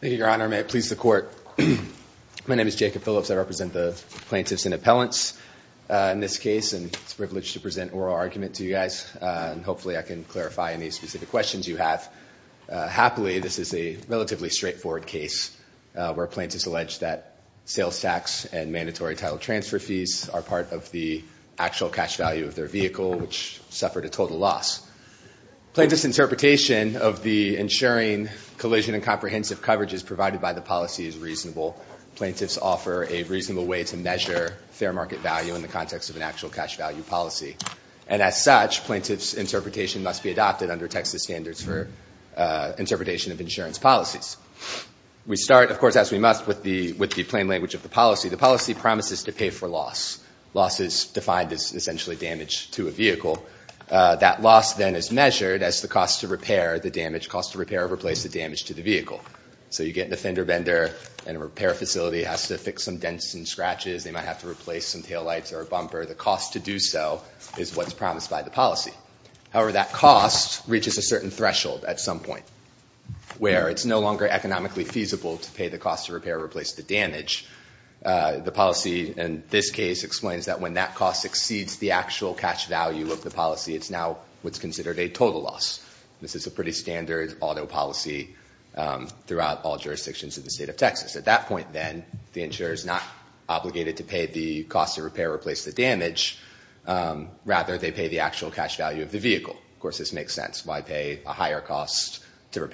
Thank you, Your Honor. May it please the Court. My name is Jacob Phillips. I represent the plaintiffs and appellants in this case, and it's a privilege to present oral argument to you guys. Hopefully I can clarify any specific questions you have. Happily, this is a relatively straightforward case where plaintiffs allege that sales tax and mandatory title transfer fees are part of the actual cash value of their vehicle, which suffered a total loss. Plaintiffs' interpretation of the insuring collision and comprehensive coverages provided by the policy is reasonable. Plaintiffs offer a reasonable way to measure fair market value in the context of an actual cash value policy. And as such, plaintiffs' interpretation must be adopted under Texas standards for interpretation of insurance policies. We start, of course, as we must, with the plain language of the policy. The policy promises to pay for loss. Loss is defined as essentially damage to a vehicle. That loss then is measured as the cost to repair the damage, cost to repair or replace the damage to the vehicle. So you get the fender bender, and a repair facility has to fix some dents and scratches. They might have to replace some taillights or a bumper. The cost to do so is what's promised by the policy. However, that cost reaches a certain threshold at some point where it's no longer economically feasible to pay the cost to repair or replace the damage. The policy in this case explains that when that cost exceeds the actual cash value of the policy, it's now what's considered a total loss. This is a pretty standard auto policy throughout all jurisdictions of the state of Texas. At that point, then, the insurer is not obligated to pay the cost to repair or replace the damage. Rather, they pay the actual cash value of the vehicle. Of course, this makes sense. Why pay a higher cost to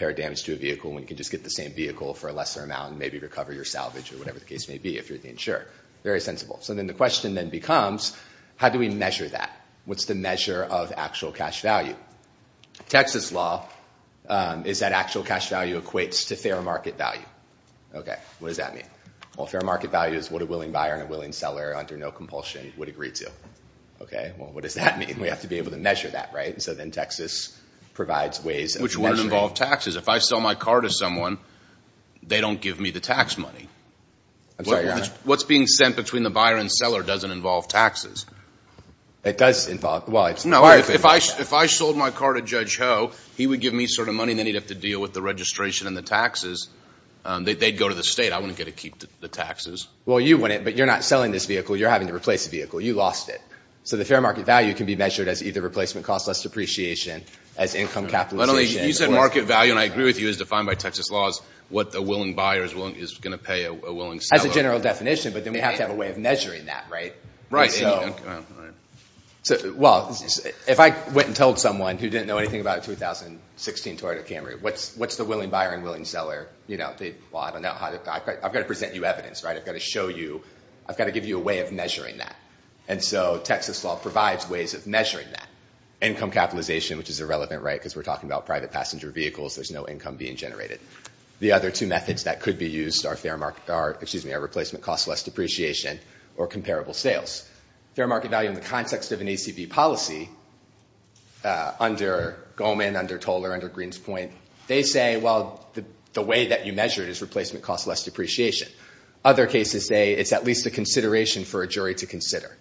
just get the same vehicle for a lesser amount and maybe recover your salvage or whatever the case may be if you're the insurer. Very sensible. So then the question then becomes, how do we measure that? What's the measure of actual cash value? Texas law is that actual cash value equates to fair market value. What does that mean? Well, fair market value is what a willing buyer and a willing seller under no compulsion would agree to. Well, what does that mean? We have to be able to measure that. So then Texas provides ways of measuring. Which wouldn't involve taxes. If I sell my car to someone, they don't give me the tax money. I'm sorry, Your Honor. What's being sent between the buyer and seller doesn't involve taxes. It does involve, well, it's part of it. No, if I sold my car to Judge Ho, he would give me money and then he'd have to deal with the registration and the taxes. They'd go to the state. I wouldn't get to keep the taxes. Well, you wouldn't, but you're not selling this vehicle. You're having to replace the vehicle. You lost it. So the fair market value can be measured as either replacement cost, less depreciation, as income capitalization. You said market value, and I agree with you, is defined by Texas laws, what the willing buyer is going to pay a willing seller. As a general definition, but then we have to have a way of measuring that, right? Right. So, well, if I went and told someone who didn't know anything about a 2016 Toyota Camry, what's the willing buyer and willing seller? Well, I've got to present you evidence, right? I've got to show you. I've got to give you a way of measuring that. And so, Texas law provides ways of measuring that. Income capitalization, which is irrelevant, right, because we're talking about private passenger vehicles. There's no income being generated. The other two methods that could be used are fair market, excuse me, are replacement cost, less depreciation, or comparable sales. Fair market value in the context of an ACB policy, under Goldman, under Toller, under Green's point, they say, well, the way that you measure it is replacement cost, less depreciation. Other cases say it's at least a consideration for a jury to consider.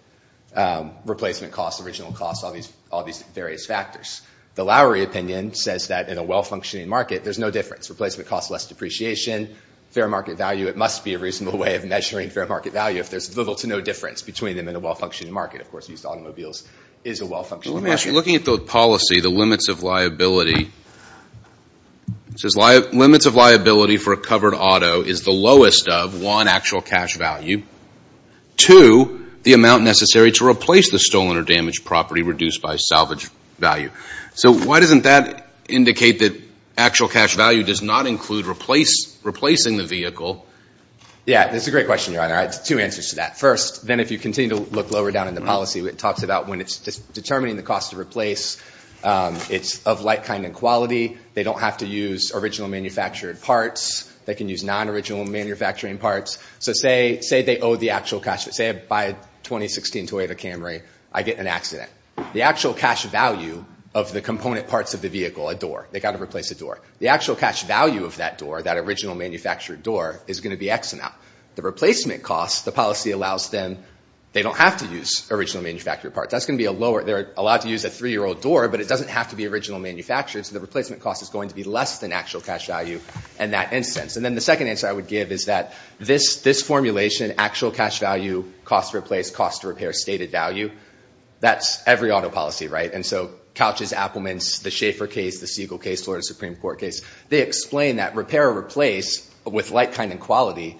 Replacement cost, original cost, all these various factors. The Lowry opinion says that in a well-functioning market, there's no difference. Replacement cost, less depreciation, fair market value, it must be a reasonable way of measuring fair market value if there's little to no difference between them in a well-functioning market. Of course, used automobiles is a well-functioning market. Let me ask you, looking at the policy, the limits of liability, it says limits of liability for a covered auto is the lowest of, one, actual cash value, two, the amount necessary to replace the stolen or damaged property reduced by salvage value. So why doesn't that indicate that actual cash value does not include replacing the vehicle? Yeah, that's a great question, Your Honor. I have two answers to that. First, then if you continue to look lower down in the policy, it talks about when it's determining the cost to replace, it's of like kind and quality. They don't have to use original manufactured parts. They can use non-original manufacturing parts. So say they owe the actual cash. Say I buy a 2016 Toyota Camry, I get an accident. The actual cash value of the component parts of the vehicle, a door, they've got to replace the door. The actual cash value of that door, that original manufactured door, is going to be X amount. The replacement cost, the policy allows them, they don't have to use original manufactured parts. That's going to be a lower, they're allowed to use a three-year-old door, but it doesn't have to be original manufactured, so the replacement cost is going to be less than actual cash value in that instance. And then the second answer I would give is that this formulation, actual cash value, cost to replace, cost to repair, stated value, that's every auto policy, right? And so Couch's, Appelman's, the Schaefer case, the Siegel case, Florida Supreme Court case, they explain that repair or replace with like kind and quality,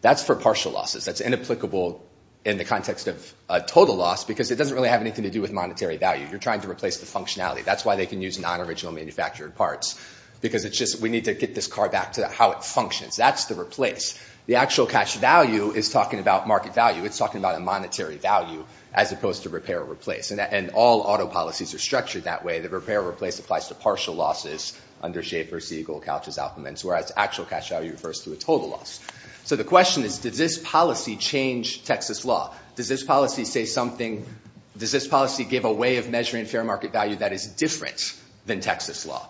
that's for partial losses. That's inapplicable in the context of total loss because it doesn't really have anything to do with monetary value. You're trying to replace the functionality. That's why they can use non-original manufactured parts because it's just, we need to get this car back to how it functions. That's the replace. The actual cash value is talking about market value. It's talking about a monetary value as opposed to repair or replace. And all auto policies are structured that way. The repair or replace applies to partial losses under Schaefer, Siegel, Couch's, Appelman's, whereas actual cash value refers to a total loss. So the question is, does this policy change Texas law? Does this policy say something, does this policy give a way of measuring fair market value that is different than Texas law?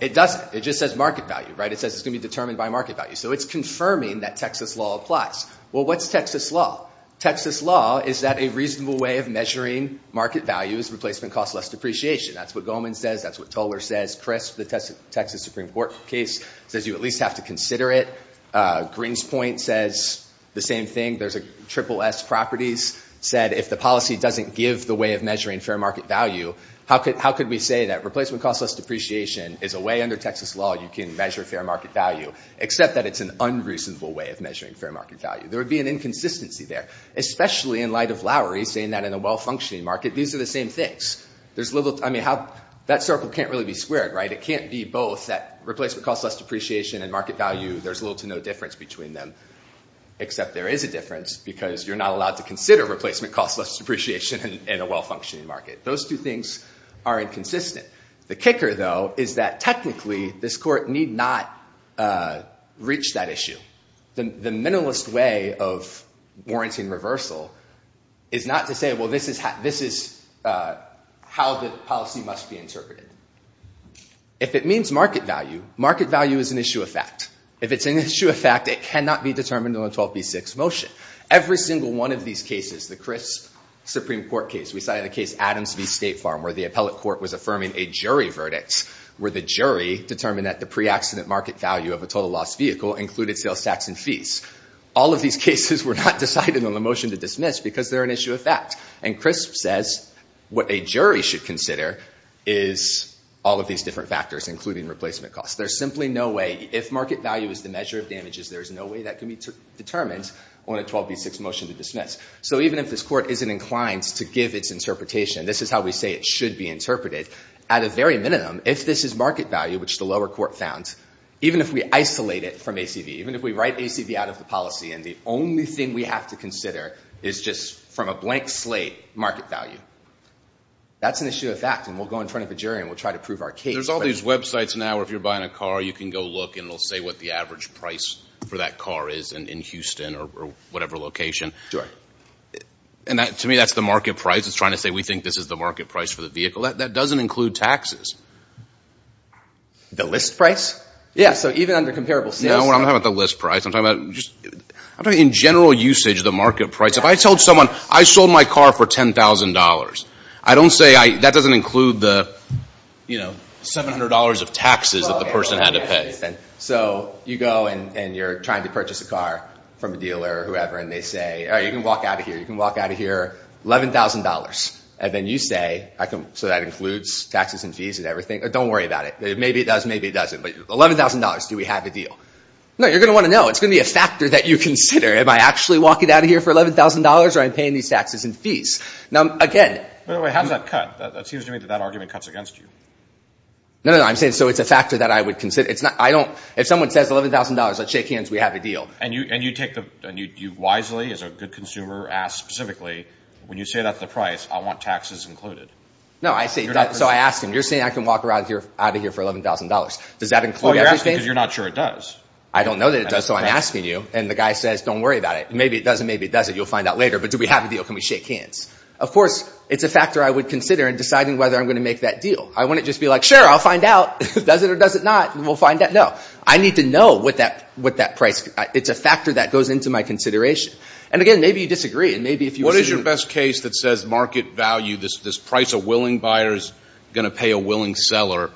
It doesn't. It just says market value, right? It says it's going to be determined by market value. So it's confirming that Texas law applies. Well, what's Texas law? Texas law is that a reasonable way of measuring market value is replacement costs less depreciation. That's what Goldman says. That's what Toler says. Chris, the Texas Supreme Court case, says you at least have to consider it. Greenspoint says the same thing. There's a triple S properties said if the policy doesn't give the way of measuring fair market value, how could we say that replacement costs less depreciation is a way under Texas law you can measure fair market value, except that it's an unreasonable way of measuring fair market value. There would be an inconsistency there, especially in light of Lowry saying that in a well-functioning market these are the same things. That circle can't really be squared, right? It can't be both that replacement costs less depreciation and market value, there's little to no difference between them, except there is a difference because you're not allowed to consider replacement costs less depreciation in a well-functioning market. Those two things are inconsistent. The kicker, though, is that technically this court need not reach that issue. The minimalist way of warranting reversal is not to say, well, this is how the policy must be interpreted. If it means market value, market value is an issue of fact. If it's an issue of fact, it cannot be determined on a 12b6 motion. Every single one of these cases, the Crisp Supreme Court case, we cited the case Adams v. State Farm where the appellate court was affirming a jury verdict, where the jury determined that the pre-accident market value of a total loss vehicle included sales tax and fees. All of these cases were not decided on the motion to dismiss because they're an issue of fact. And Crisp says what a jury should consider is all of these different factors, including replacement costs. There's simply no way, if market value is the measure of damages, there's no way that can be determined on a 12b6 motion to dismiss. So even if this court isn't inclined to give its interpretation, this is how we say it should be interpreted, at a very minimum, if this is market value, which the lower court found, even if we isolate it from ACV, even if we write ACV out of the policy and the only thing we have to consider is just from a blank slate market value, that's an issue of fact. And we'll go in front of a jury and we'll try to prove our case. There's all these websites now where if you're buying a car, you can go look and it'll say what the average price for that car is in Houston or whatever location. Sure. And to me, that's the market price. It's trying to say we think this is the market price for the vehicle. That doesn't include taxes. The list price? Yeah. So even under comparable sales tax. No, I'm not talking about the list price. I'm talking about just in general usage, the market price. If I told someone I sold my car for $10,000, I don't say, that doesn't include the $700 of taxes that the person had to pay. So you go and you're trying to purchase a car from a dealer or whoever and they say, all right, you can walk out of here. You can walk out of here, $11,000. And then you say, so that includes taxes and fees and everything. Don't worry about it. Maybe it does, maybe it doesn't. But $11,000, do we have a deal? No, you're going to want to know. It's going to be a factor that you consider. Am I actually walking out of here for $11,000 or am I paying these taxes and fees? By the way, how does that cut? It seems to me that that argument cuts against you. No, no, no. I'm saying so it's a factor that I would consider. If someone says $11,000, let's shake hands, we have a deal. And you wisely, as a good consumer, ask specifically, when you say that's the price, I want taxes included. No, I say, so I ask him, you're saying I can walk out of here for $11,000. Does that include everything? Well, you're asking because you're not sure it does. I don't know that it does, so I'm asking you. And the guy says, don't worry about it. Maybe it does and maybe it doesn't. You'll find out later. But do we have a deal? Can we shake hands? Of course, it's a factor I would consider in deciding whether I'm going to make that deal. I wouldn't just be like, sure, I'll find out. Does it or does it not? We'll find out. No. I need to know what that price is. It's a factor that goes into my consideration. And again, maybe you disagree. What is your best case that says market value, this price a willing buyer is going to pay a willing seller,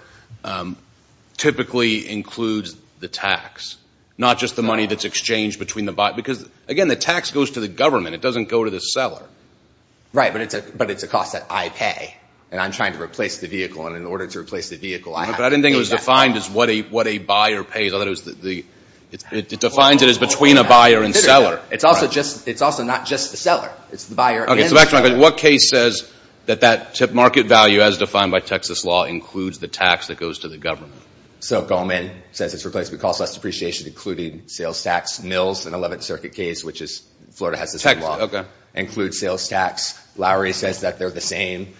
typically includes the tax, not just the money that's exchanged between the buyer? Because again, the tax goes to the government. It doesn't go to the seller. Right. But it's a cost that I pay. And I'm trying to replace the vehicle. And in order to replace the vehicle, I have to pay that cost. But I didn't think it was defined as what a buyer pays. I thought it was the, it defines it as between a buyer and seller. It's also just, it's also not just the seller. It's the buyer and the seller. So back to my question. What case says that that market value as defined by Texas law includes the tax that goes to the government? So Goldman says it's replaced with cost less depreciation, including sales tax. Mills, an 11th Circuit case, which is, Florida has the same law, includes sales tax. Lowry says that they're the same.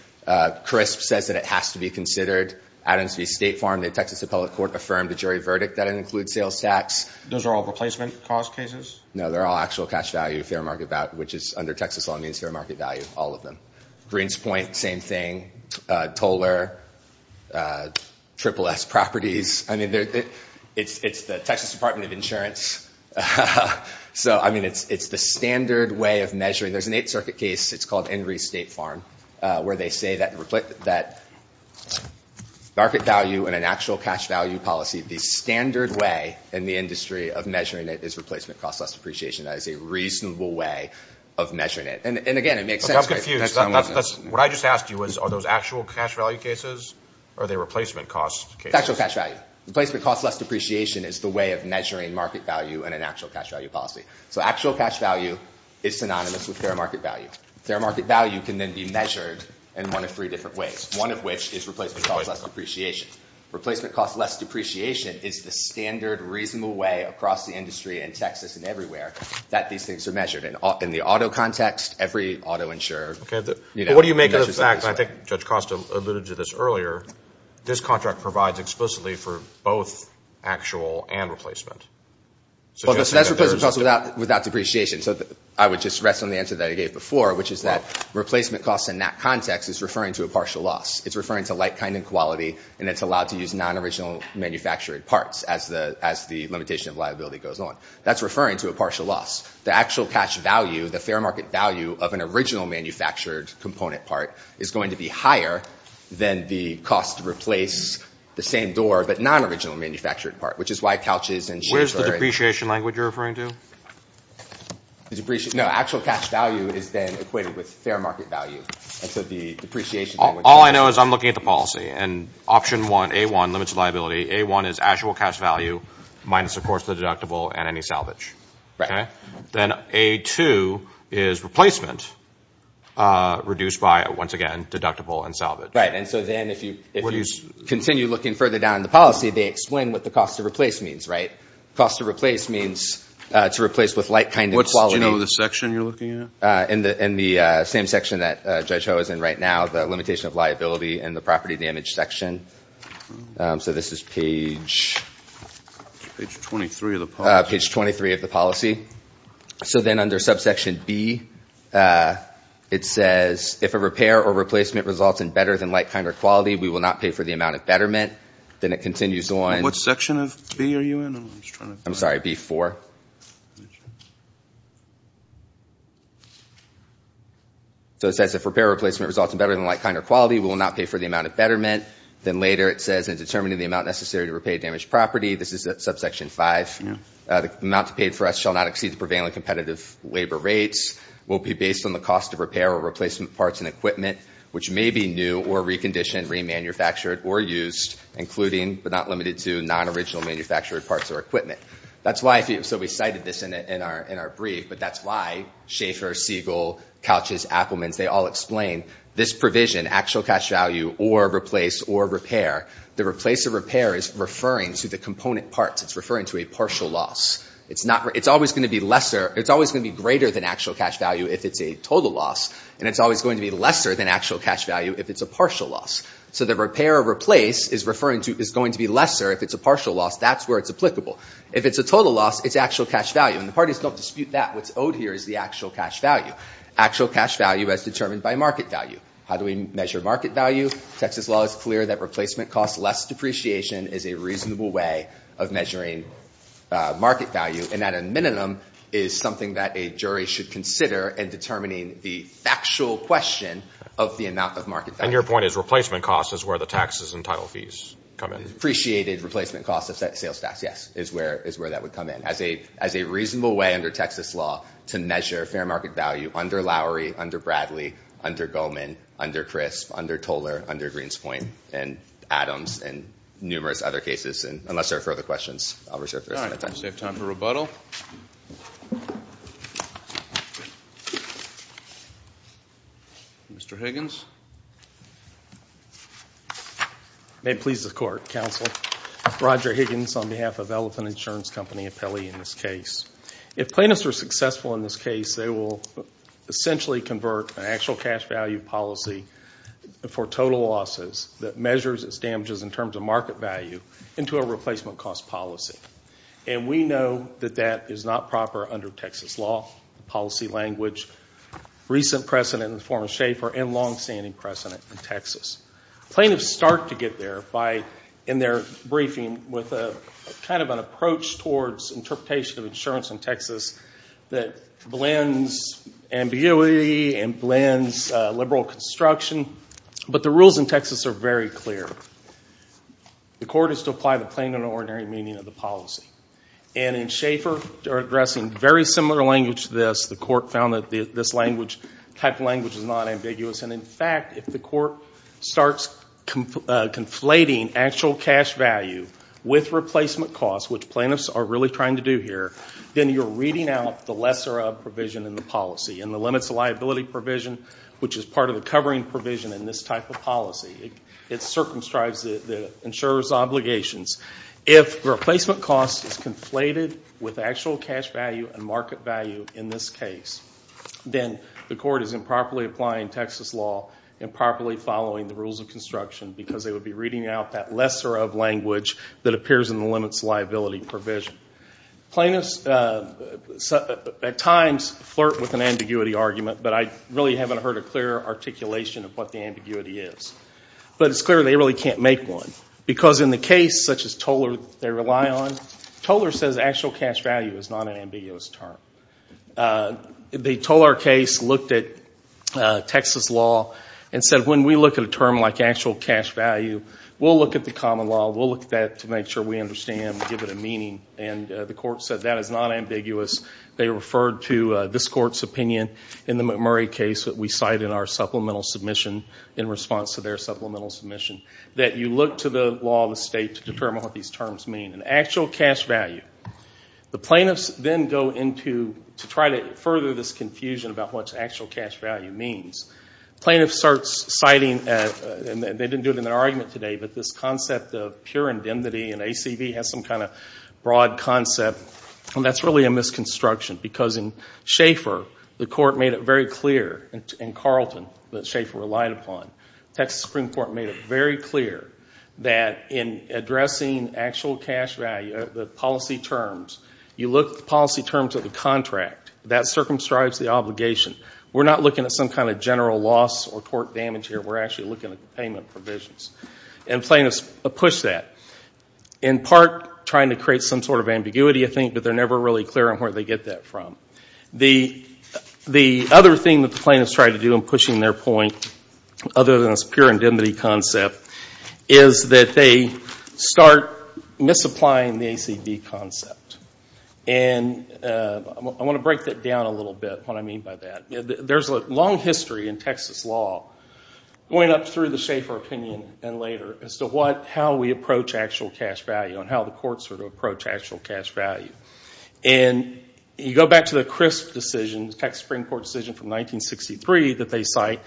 Crisp says that it has to be considered. Adams v. State Farm, the Texas Appellate Court affirmed the jury verdict that it includes sales tax. Those are all replacement cost cases? No, they're all actual cash value, fair market value, which is under Texas law means fair market value, all of them. Greenspoint, same thing. Toler, SSS Properties. I mean, it's the Texas Department of Insurance. So I mean, it's the standard way of measuring. There's an 8th Circuit case, it's called Henry's State Farm, where they say that market value in an actual cash value policy, the standard way in the industry of measuring it is replacement cost less depreciation. That is a reasonable way of measuring it. I'm confused. What I just asked you is, are those actual cash value cases or are they replacement cost cases? Actual cash value. Replacement cost less depreciation is the way of measuring market value in an actual cash value policy. So actual cash value is synonymous with fair market value. Fair market value can then be measured in one of three different ways, one of which is replacement cost less depreciation. Replacement cost less depreciation is the standard reasonable way across the industry in Texas and everywhere that these things are measured. In the auto context, every auto insurer, you know, measures it this way. Okay. But what do you make of the fact, and I think Judge Costa alluded to this earlier, this contract provides explicitly for both actual and replacement. Well, that's replacement cost without depreciation. So I would just rest on the answer that I gave before, which is that replacement cost in that context is referring to a partial loss. It's referring to like, kind, and quality, and it's allowed to use non-original manufactured parts as the limitation of liability goes on. That's referring to a partial loss. The actual cash value, the fair market value of an original manufactured component part is going to be higher than the cost to replace the same door, but non-original manufactured part, which is why couches and chairs are... Where's the depreciation language you're referring to? No, actual cash value is then equated with fair market value. And so the depreciation language... All I know is I'm looking at the policy, and option one, A1, limits liability, A1 is actual cash value minus, of course, the deductible and any salvage. Right. Then A2 is replacement, reduced by, once again, deductible and salvage. Right. And so then if you continue looking further down in the policy, they explain what the cost to replace means, right? Cost to replace means to replace with like, kind, and quality... Do you know the section you're looking at? In the same section that Judge Ho is in right now, the limitation of liability and the property Page 23 of the policy. Page 23 of the policy. So then under subsection B, it says, if a repair or replacement results in better than like, kind, or quality, we will not pay for the amount of betterment. Then it continues on... What section of B are you in? I'm sorry, B4. So it says, if repair or replacement results in better than like, kind, or quality, we will not pay for the amount of betterment. Then later it says, in determining the amount necessary to repay a damaged property, this is subsection 5, the amount paid for us shall not exceed the prevailing competitive labor rates, will be based on the cost of repair or replacement parts and equipment, which may be new or reconditioned, remanufactured, or used, including, but not limited to, non-original manufactured parts or equipment. That's why, so we cited this in our brief, but that's why Schaefer, Siegel, Couches, Appelmans, they all explain this provision, actual cash value, or replace, or repair. The replace, or repair, is referring to the component parts, it's referring to a partial loss. It's always going to be greater than actual cash value if it's a total loss, and it's always going to be lesser than actual cash value if it's a partial loss. So the repair or replace is going to be lesser if it's a partial loss, that's where it's applicable. If it's a total loss, it's actual cash value. And the parties don't dispute, that what's owed here is the actual cash value, actual cash value as determined by market value. How do we measure market value? Texas law is clear that replacement costs less depreciation is a reasonable way of measuring market value, and at a minimum is something that a jury should consider in determining the factual question of the amount of market value. And your point is replacement costs is where the taxes and title fees come in. Appreciated replacement costs of sales tax, yes, is where that would come in, as a reasonable way under Texas law to measure fair market value under Lowry, under Bradley, under Goldman, under Crisp, under Toler, under Greenspoint, and Adams, and numerous other cases. And unless there are further questions, I'll reserve the rest of my time. All right, we have time for rebuttal. Mr. Higgins? May it please the Court, Counsel. Roger Higgins on behalf of Elephant Insurance Company Appellee in this case. If plaintiffs are successful in this case, they will essentially convert an actual cash value policy for total losses that measures its damages in terms of market value into a replacement cost policy. And we know that that is not proper under Texas law, policy language, recent precedent in the form of Schaefer, and long-standing precedent in Texas. Plaintiffs start to get there by, in their briefing, with a kind of an approach towards interpretation of insurance in Texas that blends ambiguity and blends liberal construction. But the rules in Texas are very clear. The Court is to apply the plain and ordinary meaning of the policy. And in Schaefer, they're addressing very similar language to this. The Court found that this type of language is not ambiguous. And in fact, if the Court starts conflating actual cash value with replacement cost, which plaintiffs are really trying to do here, then you're reading out the lesser of provision in the policy and the limits of liability provision, which is part of the covering provision in this type of policy. It circumscribes the insurer's obligations. If replacement cost is conflated with actual cash value and market value in this case, then the Court is improperly applying Texas law, improperly following the lesser of language that appears in the limits of liability provision. Plaintiffs, at times, flirt with an ambiguity argument, but I really haven't heard a clear articulation of what the ambiguity is. But it's clear they really can't make one. Because in the case, such as Toller, they rely on, Toller says actual cash value is not an ambiguous term. The Toller case looked at Texas law and said, when we look at a term like actual cash value, we'll look at the common law, we'll look at that to make sure we understand and give it a meaning. And the Court said that is not ambiguous. They referred to this Court's opinion in the McMurray case that we cite in our supplemental submission in response to their supplemental submission, that you look to the law of the state to determine what these terms mean. And actual cash value, the plaintiffs then go into, to try to further this confusion about what actual cash value means. Plaintiffs start citing, and they didn't do it in their argument today, but this concept of pure indemnity and ACV has some kind of broad concept, and that's really a misconstruction. Because in Schaefer, the Court made it very clear, in Carlton, that Schaefer relied upon. Texas Supreme Court made it very clear that in addressing actual cash value, the policy terms, you look at the policy terms of the contract. That circumscribes the obligation. We're not looking at some kind of general loss or tort damage here. We're actually looking at the payment provisions. And plaintiffs push that, in part trying to create some sort of ambiguity, I think, but they're never really clear on where they get that from. The other thing that the plaintiffs try to do in pushing their point, other than this pure indemnity concept, is that they start misapplying the ACV concept. And I want to break that down a little bit, what I mean by that. There's a long history in Texas law, going up through the Schaefer opinion and later, as to how we approach actual cash value and how the courts sort of approach actual cash value. And you go back to the Crisp decision, the Texas Supreme Court decision from 1963 that they cite,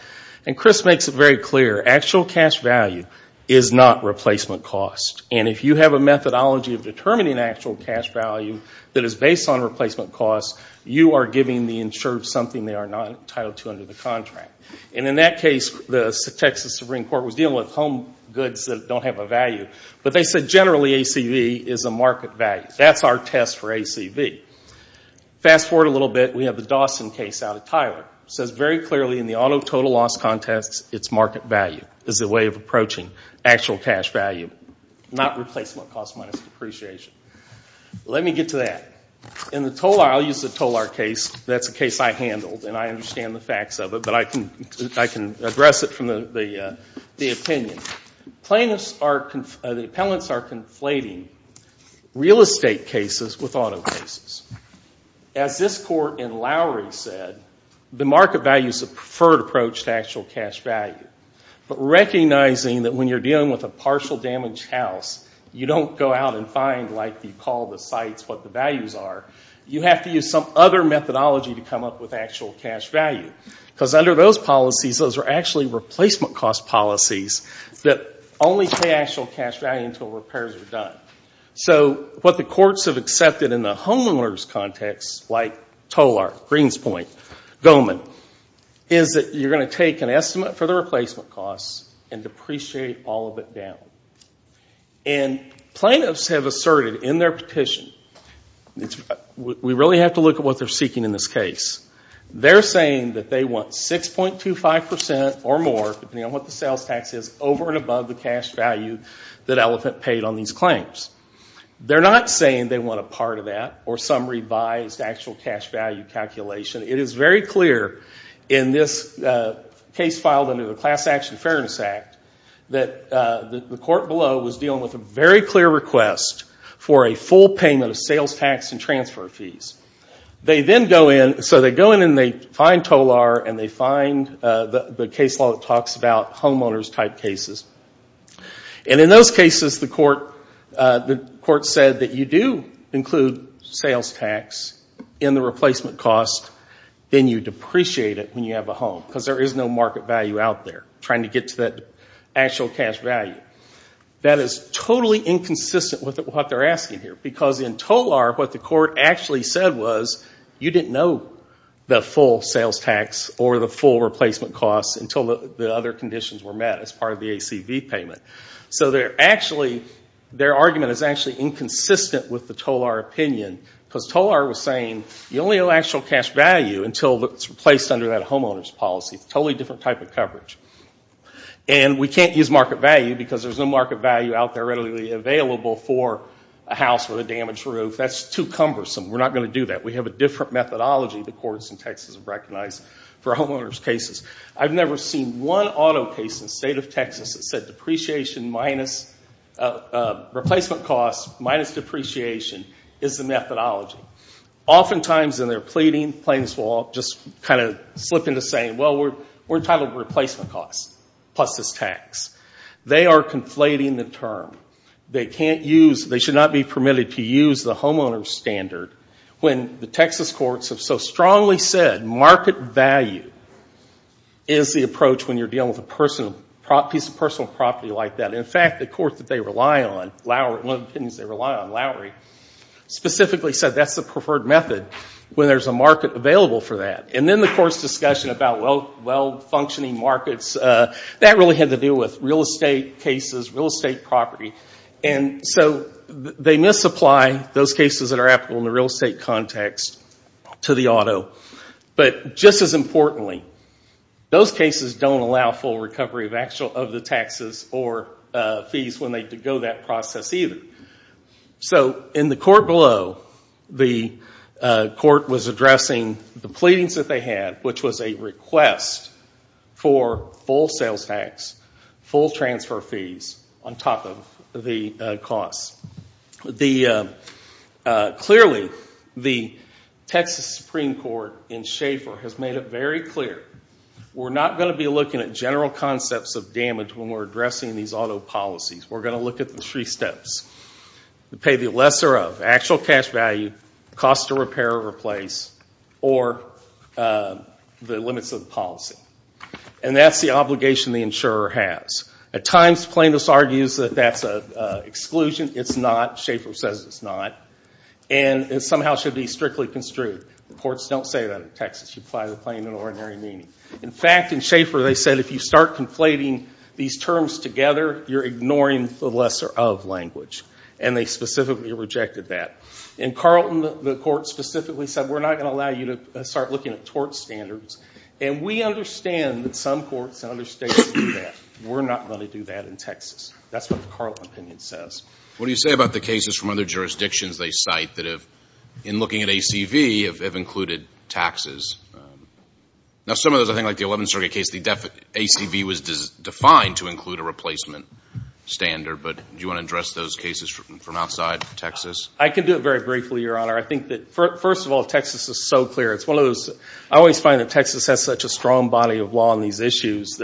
and Crisp makes it very clear, actual cash value is not replacement cost. And if you have a methodology of determining actual cash value that is based on replacement cost, you are giving the insured something they are not entitled to under the contract. And in that case, the Texas Supreme Court was dealing with home goods that don't have a value. But they said, generally, ACV is a market value. That's our test for ACV. Fast forward a little bit, we have the Dawson case out of Tyler. It says very clearly in the auto total loss context, it's market value as a way of approaching actual cash value, not replacement cost minus depreciation. Let me get to that. In the Tolar, I'll use the Tolar case, that's a case I handled and I understand the facts of it, but I can address it from the opinion. The appellants are conflating real estate cases with auto cases. As this court in Lowry said, the market value is a preferred approach to actual cash value. But recognizing that when you're dealing with a partial damaged house, you don't go out and find, like you call the sites, what the values are. You have to use some other methodology to come up with actual cash value. Because under those policies, those are actually replacement cost policies that only pay actual cash value until repairs are done. So what the courts have accepted in the homeowner's context, like Tolar, Greenspoint, Goldman, is that you're going to take an estimate for the replacement costs and depreciate all of it down. And plaintiffs have asserted in their petition, we really have to look at what they're seeking in this case. They're saying that they want 6.25% or more, depending on what the sales tax is, over and above the cash value that Elephant paid on these claims. They're not saying they want a part of that or some revised actual cash value calculation. It is very clear in this case filed under the Class Action Fairness Act that the court below was dealing with a very clear request for a full payment of sales tax and transfer fees. They then go in, so they go in and they find Tolar and they find the case law that talks about homeowner's type cases. And in those cases, the court said that you do include sales tax in the replacement cost, then you depreciate it when you have a home, because there is no market value out there, trying to get to that actual cash value. That is totally inconsistent with what they're asking here, because in Tolar, what the court actually said was, you didn't know the full sales tax or the full replacement costs until the other conditions were met as part of the ACV payment. So their argument is actually inconsistent with the Tolar opinion, because Tolar was saying, you only owe actual cash value until it's replaced under that homeowner's policy. It's a totally different type of coverage. And we can't use market value, because there's no market value out there readily available for a house with a damaged roof. That's too cumbersome. We're not going to do that. We have a different methodology the courts in Texas have recognized for homeowner's cases. I've never seen one auto case in the state of Texas that said depreciation minus replacement costs minus depreciation is the methodology. Oftentimes in their pleading, claims will just kind of slip into saying, well, we're entitled to replacement costs plus this tax. They are conflating the term. They should not be permitted to use the homeowner's standard when the Texas courts have so strongly said market value is the approach when you're dealing with a piece of personal property like that. In fact, the court that they rely on, Lauer one of the opinions they rely on, Lauer, specifically said that's the preferred method when there's a market available for that. And then the court's discussion about well-functioning markets, that really had to do with real estate cases, real estate property. And so they misapply those cases that are applicable in the real estate context to the auto. But just as importantly, those cases don't allow full recovery of the taxes or fees when they go that process either. So in the court below, the court was addressing the pleadings that they had, which was a request for full sales tax, full transfer fees on top of the costs. Clearly, the Texas Supreme Court in Schaefer has made it very clear, we're not going to be looking at general concepts of damage when we're addressing these auto policies. We're going to look at the three steps. To pay the lesser of, actual cash value, cost to repair or replace, or the limits of policy. And that's the obligation the insurer has. At times plaintiffs argue that that's an exclusion. It's not. Schaefer says it's not. And it somehow should be strictly construed. Courts don't say that in Texas. You apply the claim in ordinary meaning. In fact, in inflating these terms together, you're ignoring the lesser of language. And they specifically rejected that. In Carlton, the court specifically said, we're not going to allow you to start looking at tort standards. And we understand that some courts in other states do that. We're not going to do that in Texas. That's what the Carlton opinion says. What do you say about the cases from other jurisdictions they cite that have, in looking at ACV, have included taxes? Now some of those, I think like the 11th Circuit case, the ACV was defined to include a replacement standard. But do you want to address those cases from outside Texas? I can do it very briefly, Your Honor. I think that, first of all, Texas is so clear. I always find that Texas has such a strong body of law on these issues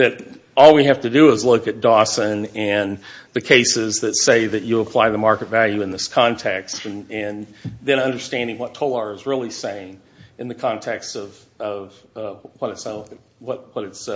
that all we have to do is look at Dawson and the cases that say that you apply the market value in this context. And then understanding what Tolar is really saying in the context of what it's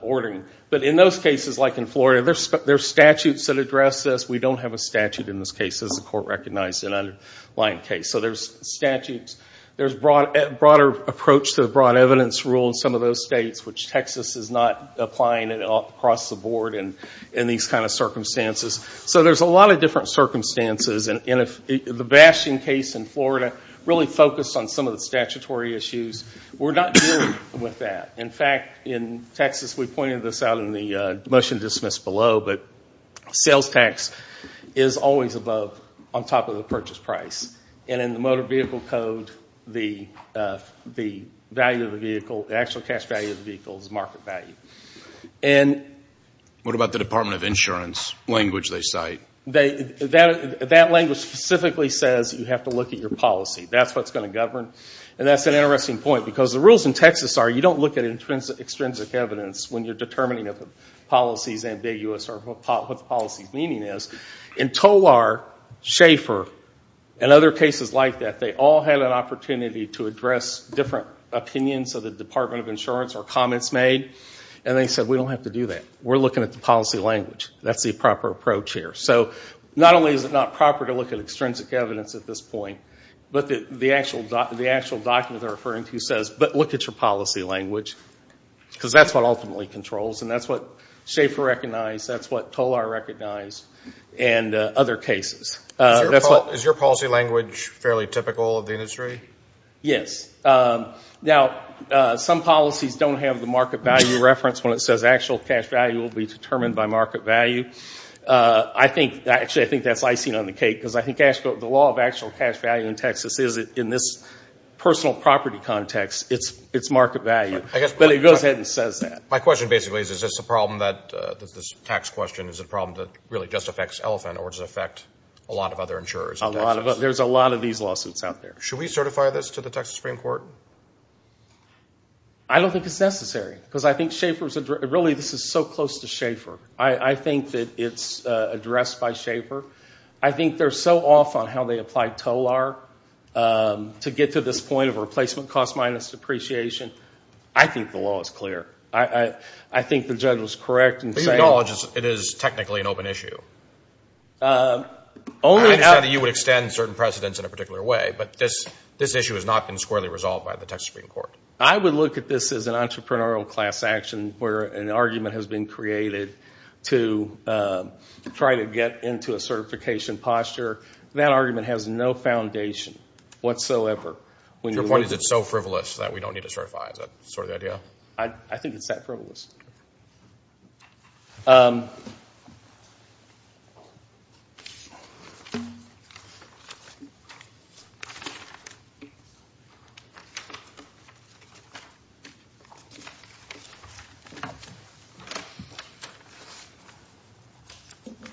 ordering. But in those cases, like in Florida, there's statutes that address this. We don't have a statute in this case, as the court recognized in an underlying case. So there's statutes. There's a broader approach to the broad evidence rule in some of those states, which Texas is not applying at all across the board in these kind of circumstances. So there's a lot of different circumstances. And the Bastian case in Florida really focused on some of the statutory issues. We're not dealing with that. In fact, in Texas, we pointed this out in the motion dismissed below, but sales tax is always above, on top of the purchase price. And in the motor vehicle code, the value of the vehicle, the actual cash value of the vehicle is market value. What about the Department of Insurance language they cite? That language specifically says you have to look at your policy. That's what's going to govern. And that's an interesting point, because the rules in Texas are you don't look at extrinsic evidence when you're determining if a policy is ambiguous or what the policy's meaning is. In Tolar, Schaefer, and other cases like that, they all had an opportunity to address different opinions of the Department of Insurance or comments made. And they said, we don't have to do that. We're looking at the policy language. That's the proper approach here. So not only is it not proper to look at extrinsic evidence at this point, but the actual document they're referring to says, but look at your policy language, because that's what ultimately controls. And that's what Schaefer recognized, that's what Tolar recognized, and other cases. Is your policy language fairly typical of the industry? Yes. Now, some policies don't have the market value reference when it says actual cash value will be determined by market value. Actually, I think that's icing on the cake, because I think the law of actual cash value in Texas is, in this personal property context, it's market value. But it goes ahead and says that. My question basically is, is this a problem that this tax question is a problem that really just affects Elephant or does it affect a lot of other insurers in Texas? There's a lot of these lawsuits out there. Should we certify this to the Texas Supreme Court? I don't think it's necessary, because I think Schaefer's, really, this is so close to Schaefer. I think that it's addressed by Schaefer. I think they're so off on how they applied Tolar to get to this point of replacement cost minus depreciation. I think the law is clear. I think the judge was correct in saying... But you acknowledge it is technically an open issue. Only... I understand that you would extend certain precedents in a particular way, but this issue has not been squarely resolved by the Texas Supreme Court. I would look at this as an entrepreneurial class action, where an argument has been created to try to get into a certification posture. That argument has no foundation whatsoever. Your point is it's so frivolous that we don't need to certify. Is that sort of the idea? No. I think it's that frivolous.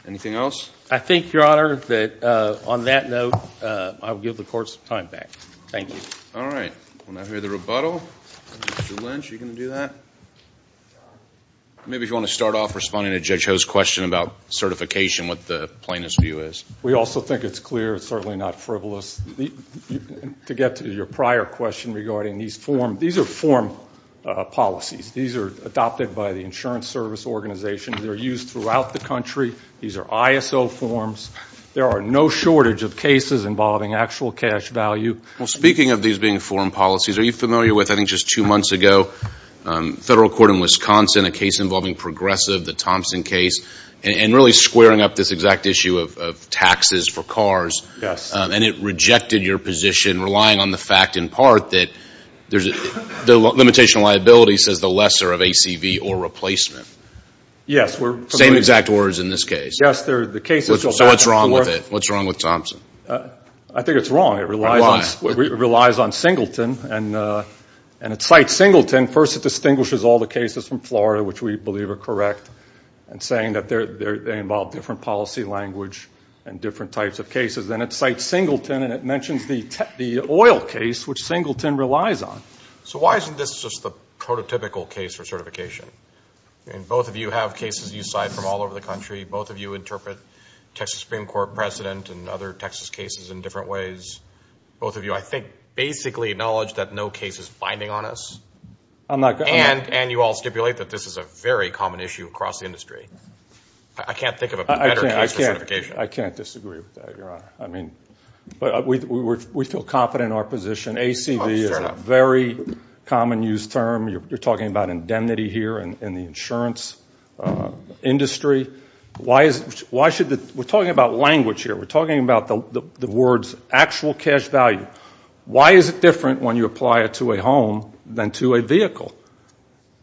Anything else? I think, Your Honor, that on that note, I will give the court some time back. Thank you. All right. We'll now hear the rebuttal. Mr. Lynch, are you going to do that? Maybe if you want to start off responding to Judge Ho's question about certification, what the plaintiff's view is. We also think it's clear. It's certainly not frivolous. To get to your prior question regarding these forms, these are form policies. These are adopted by the insurance service organizations. They're used throughout the country. These are ISO forms. There are no shortage of cases involving actual cash value. Well, speaking of these being form policies, are you familiar with, I think, just two months ago, federal court in Wisconsin, a case involving Progressive, the Thompson case, and really squaring up this exact issue of taxes for cars, and it rejected your position, relying on the fact, in part, that the limitation of liability says the lesser of ACV or replacement. Yes. Same exact words in this case. Yes. The case is still back in court. So what's wrong with it? What's wrong with Thompson? I think it's wrong. It relies on Singleton, and it cites Singleton. First, it distinguishes all the cases from Florida, which we believe are correct, and saying that they involve different policy language and different types of cases. Then it cites Singleton, and it mentions the oil case, which Singleton relies on. So why isn't this just the prototypical case for certification? Both of you have cases you cite from all over the country. Both of you interpret Texas Supreme Court President and other Texas cases in different ways. Both of you, I think, basically acknowledge that no case is binding on us. And you all stipulate that this is a very common issue across the industry. I can't think of a better case for certification. I can't disagree with that, Your Honor. We feel confident in our position. ACV is a very common use term. You're talking about indemnity here in the insurance industry. We're talking about language here. We're talking about the words actual cash value. Why is it different when you apply it to a home than to a vehicle?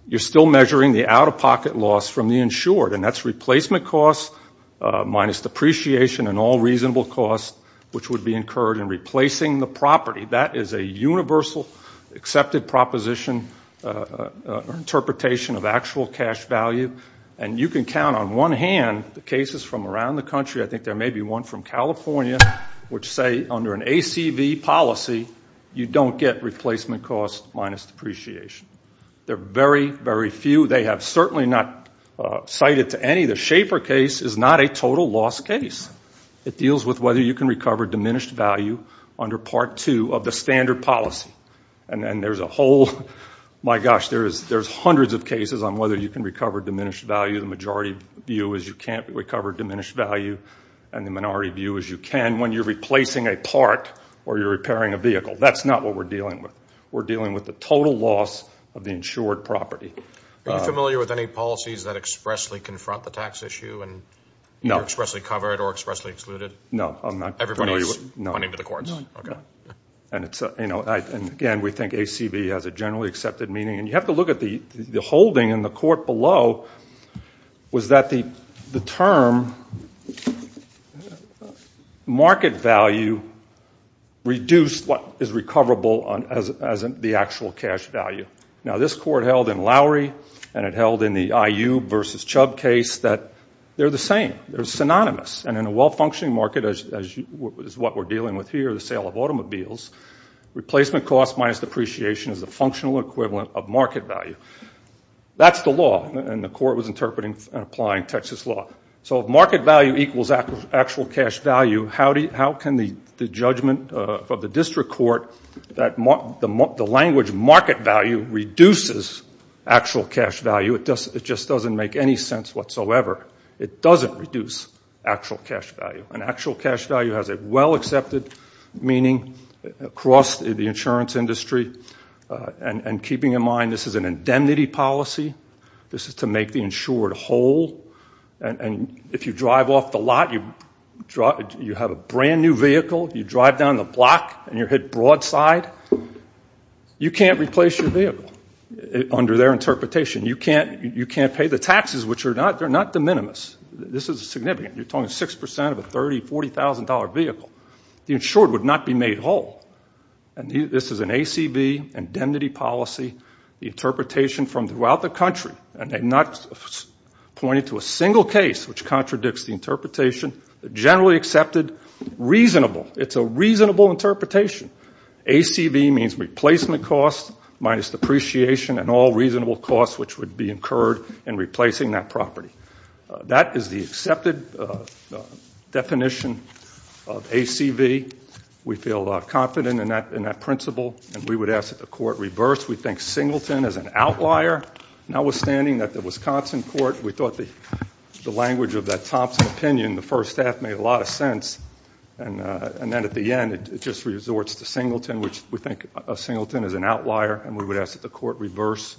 You're still measuring the out-of-pocket loss from the insured, and that's replacement costs minus depreciation and all reasonable costs, which would be incurred in replacing the property. That is a universal, accepted proposition or interpretation of actual cash value. And you can count on one hand the cases from around the country. I think there may be one from California, which say under an ACV policy, you don't get replacement costs minus depreciation. There are very, very few. They have certainly not cited to any. The Schaefer case is not a total loss case. It deals with whether you can recover diminished value under Part 2 of the standard policy. And there's a whole, my gosh, there's hundreds of cases on whether you can recover diminished value. The majority view is you can't recover diminished value, and the minority view is you can when you're replacing a part or you're repairing a vehicle. That's not what we're dealing with. We're dealing with the total loss of the insured property. Are you familiar with any policies that expressly confront the tax issue and are expressly covered or expressly excluded? No, I'm not. Everybody's pointing to the courts. No. Okay. And again, we think ACV has a generally accepted meaning. And you have to look at the holding in the court below was that the term market value reduced what is recoverable as the actual cash value. Now, this court held in Lowry and it held in the IU versus Chubb case that they're the same. They're synonymous. And in a well-functioning market, as what we're dealing with here, the sale of automobiles, replacement cost minus depreciation is a functional equivalent of market value. That's the law. And the court was interpreting and applying Texas law. So if market value equals actual cash value, how can the judgment of the district court that the language market value reduces actual cash value? It just doesn't make any sense whatsoever. It doesn't reduce actual cash value. An actual cash value has a well-accepted meaning across the insurance industry. And keeping in mind, this is an indemnity policy. This is to make the insured whole. And if you drive off the lot, you have a brand-new vehicle, you drive down the block and you're hit broadside, you can't replace your vehicle under their interpretation. You can't pay the taxes, which are not de minimis. This is significant. You're talking 6% of a $30,000, $40,000 vehicle. The insured would not be made whole. And this is an ACB, indemnity policy, the interpretation from throughout the country. And they're not pointing to a single case which contradicts the interpretation, generally accepted, reasonable. It's a reasonable interpretation. ACB means replacement cost minus depreciation and all reasonable costs which would be incurred in property. That is the accepted definition of ACB. We feel confident in that principle. And we would ask that the court reverse. We think Singleton is an outlier. Notwithstanding that the Wisconsin court, we thought the language of that Thompson opinion, the first half made a lot of sense. And then at the end, it just resorts to Singleton, which we think of Singleton as an outlier. And we would ask that the court reverse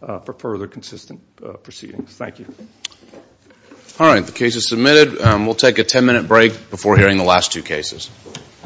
for further consistent proceedings. Thank you. All right. The case is submitted. We'll take a 10-minute break before hearing the last two cases.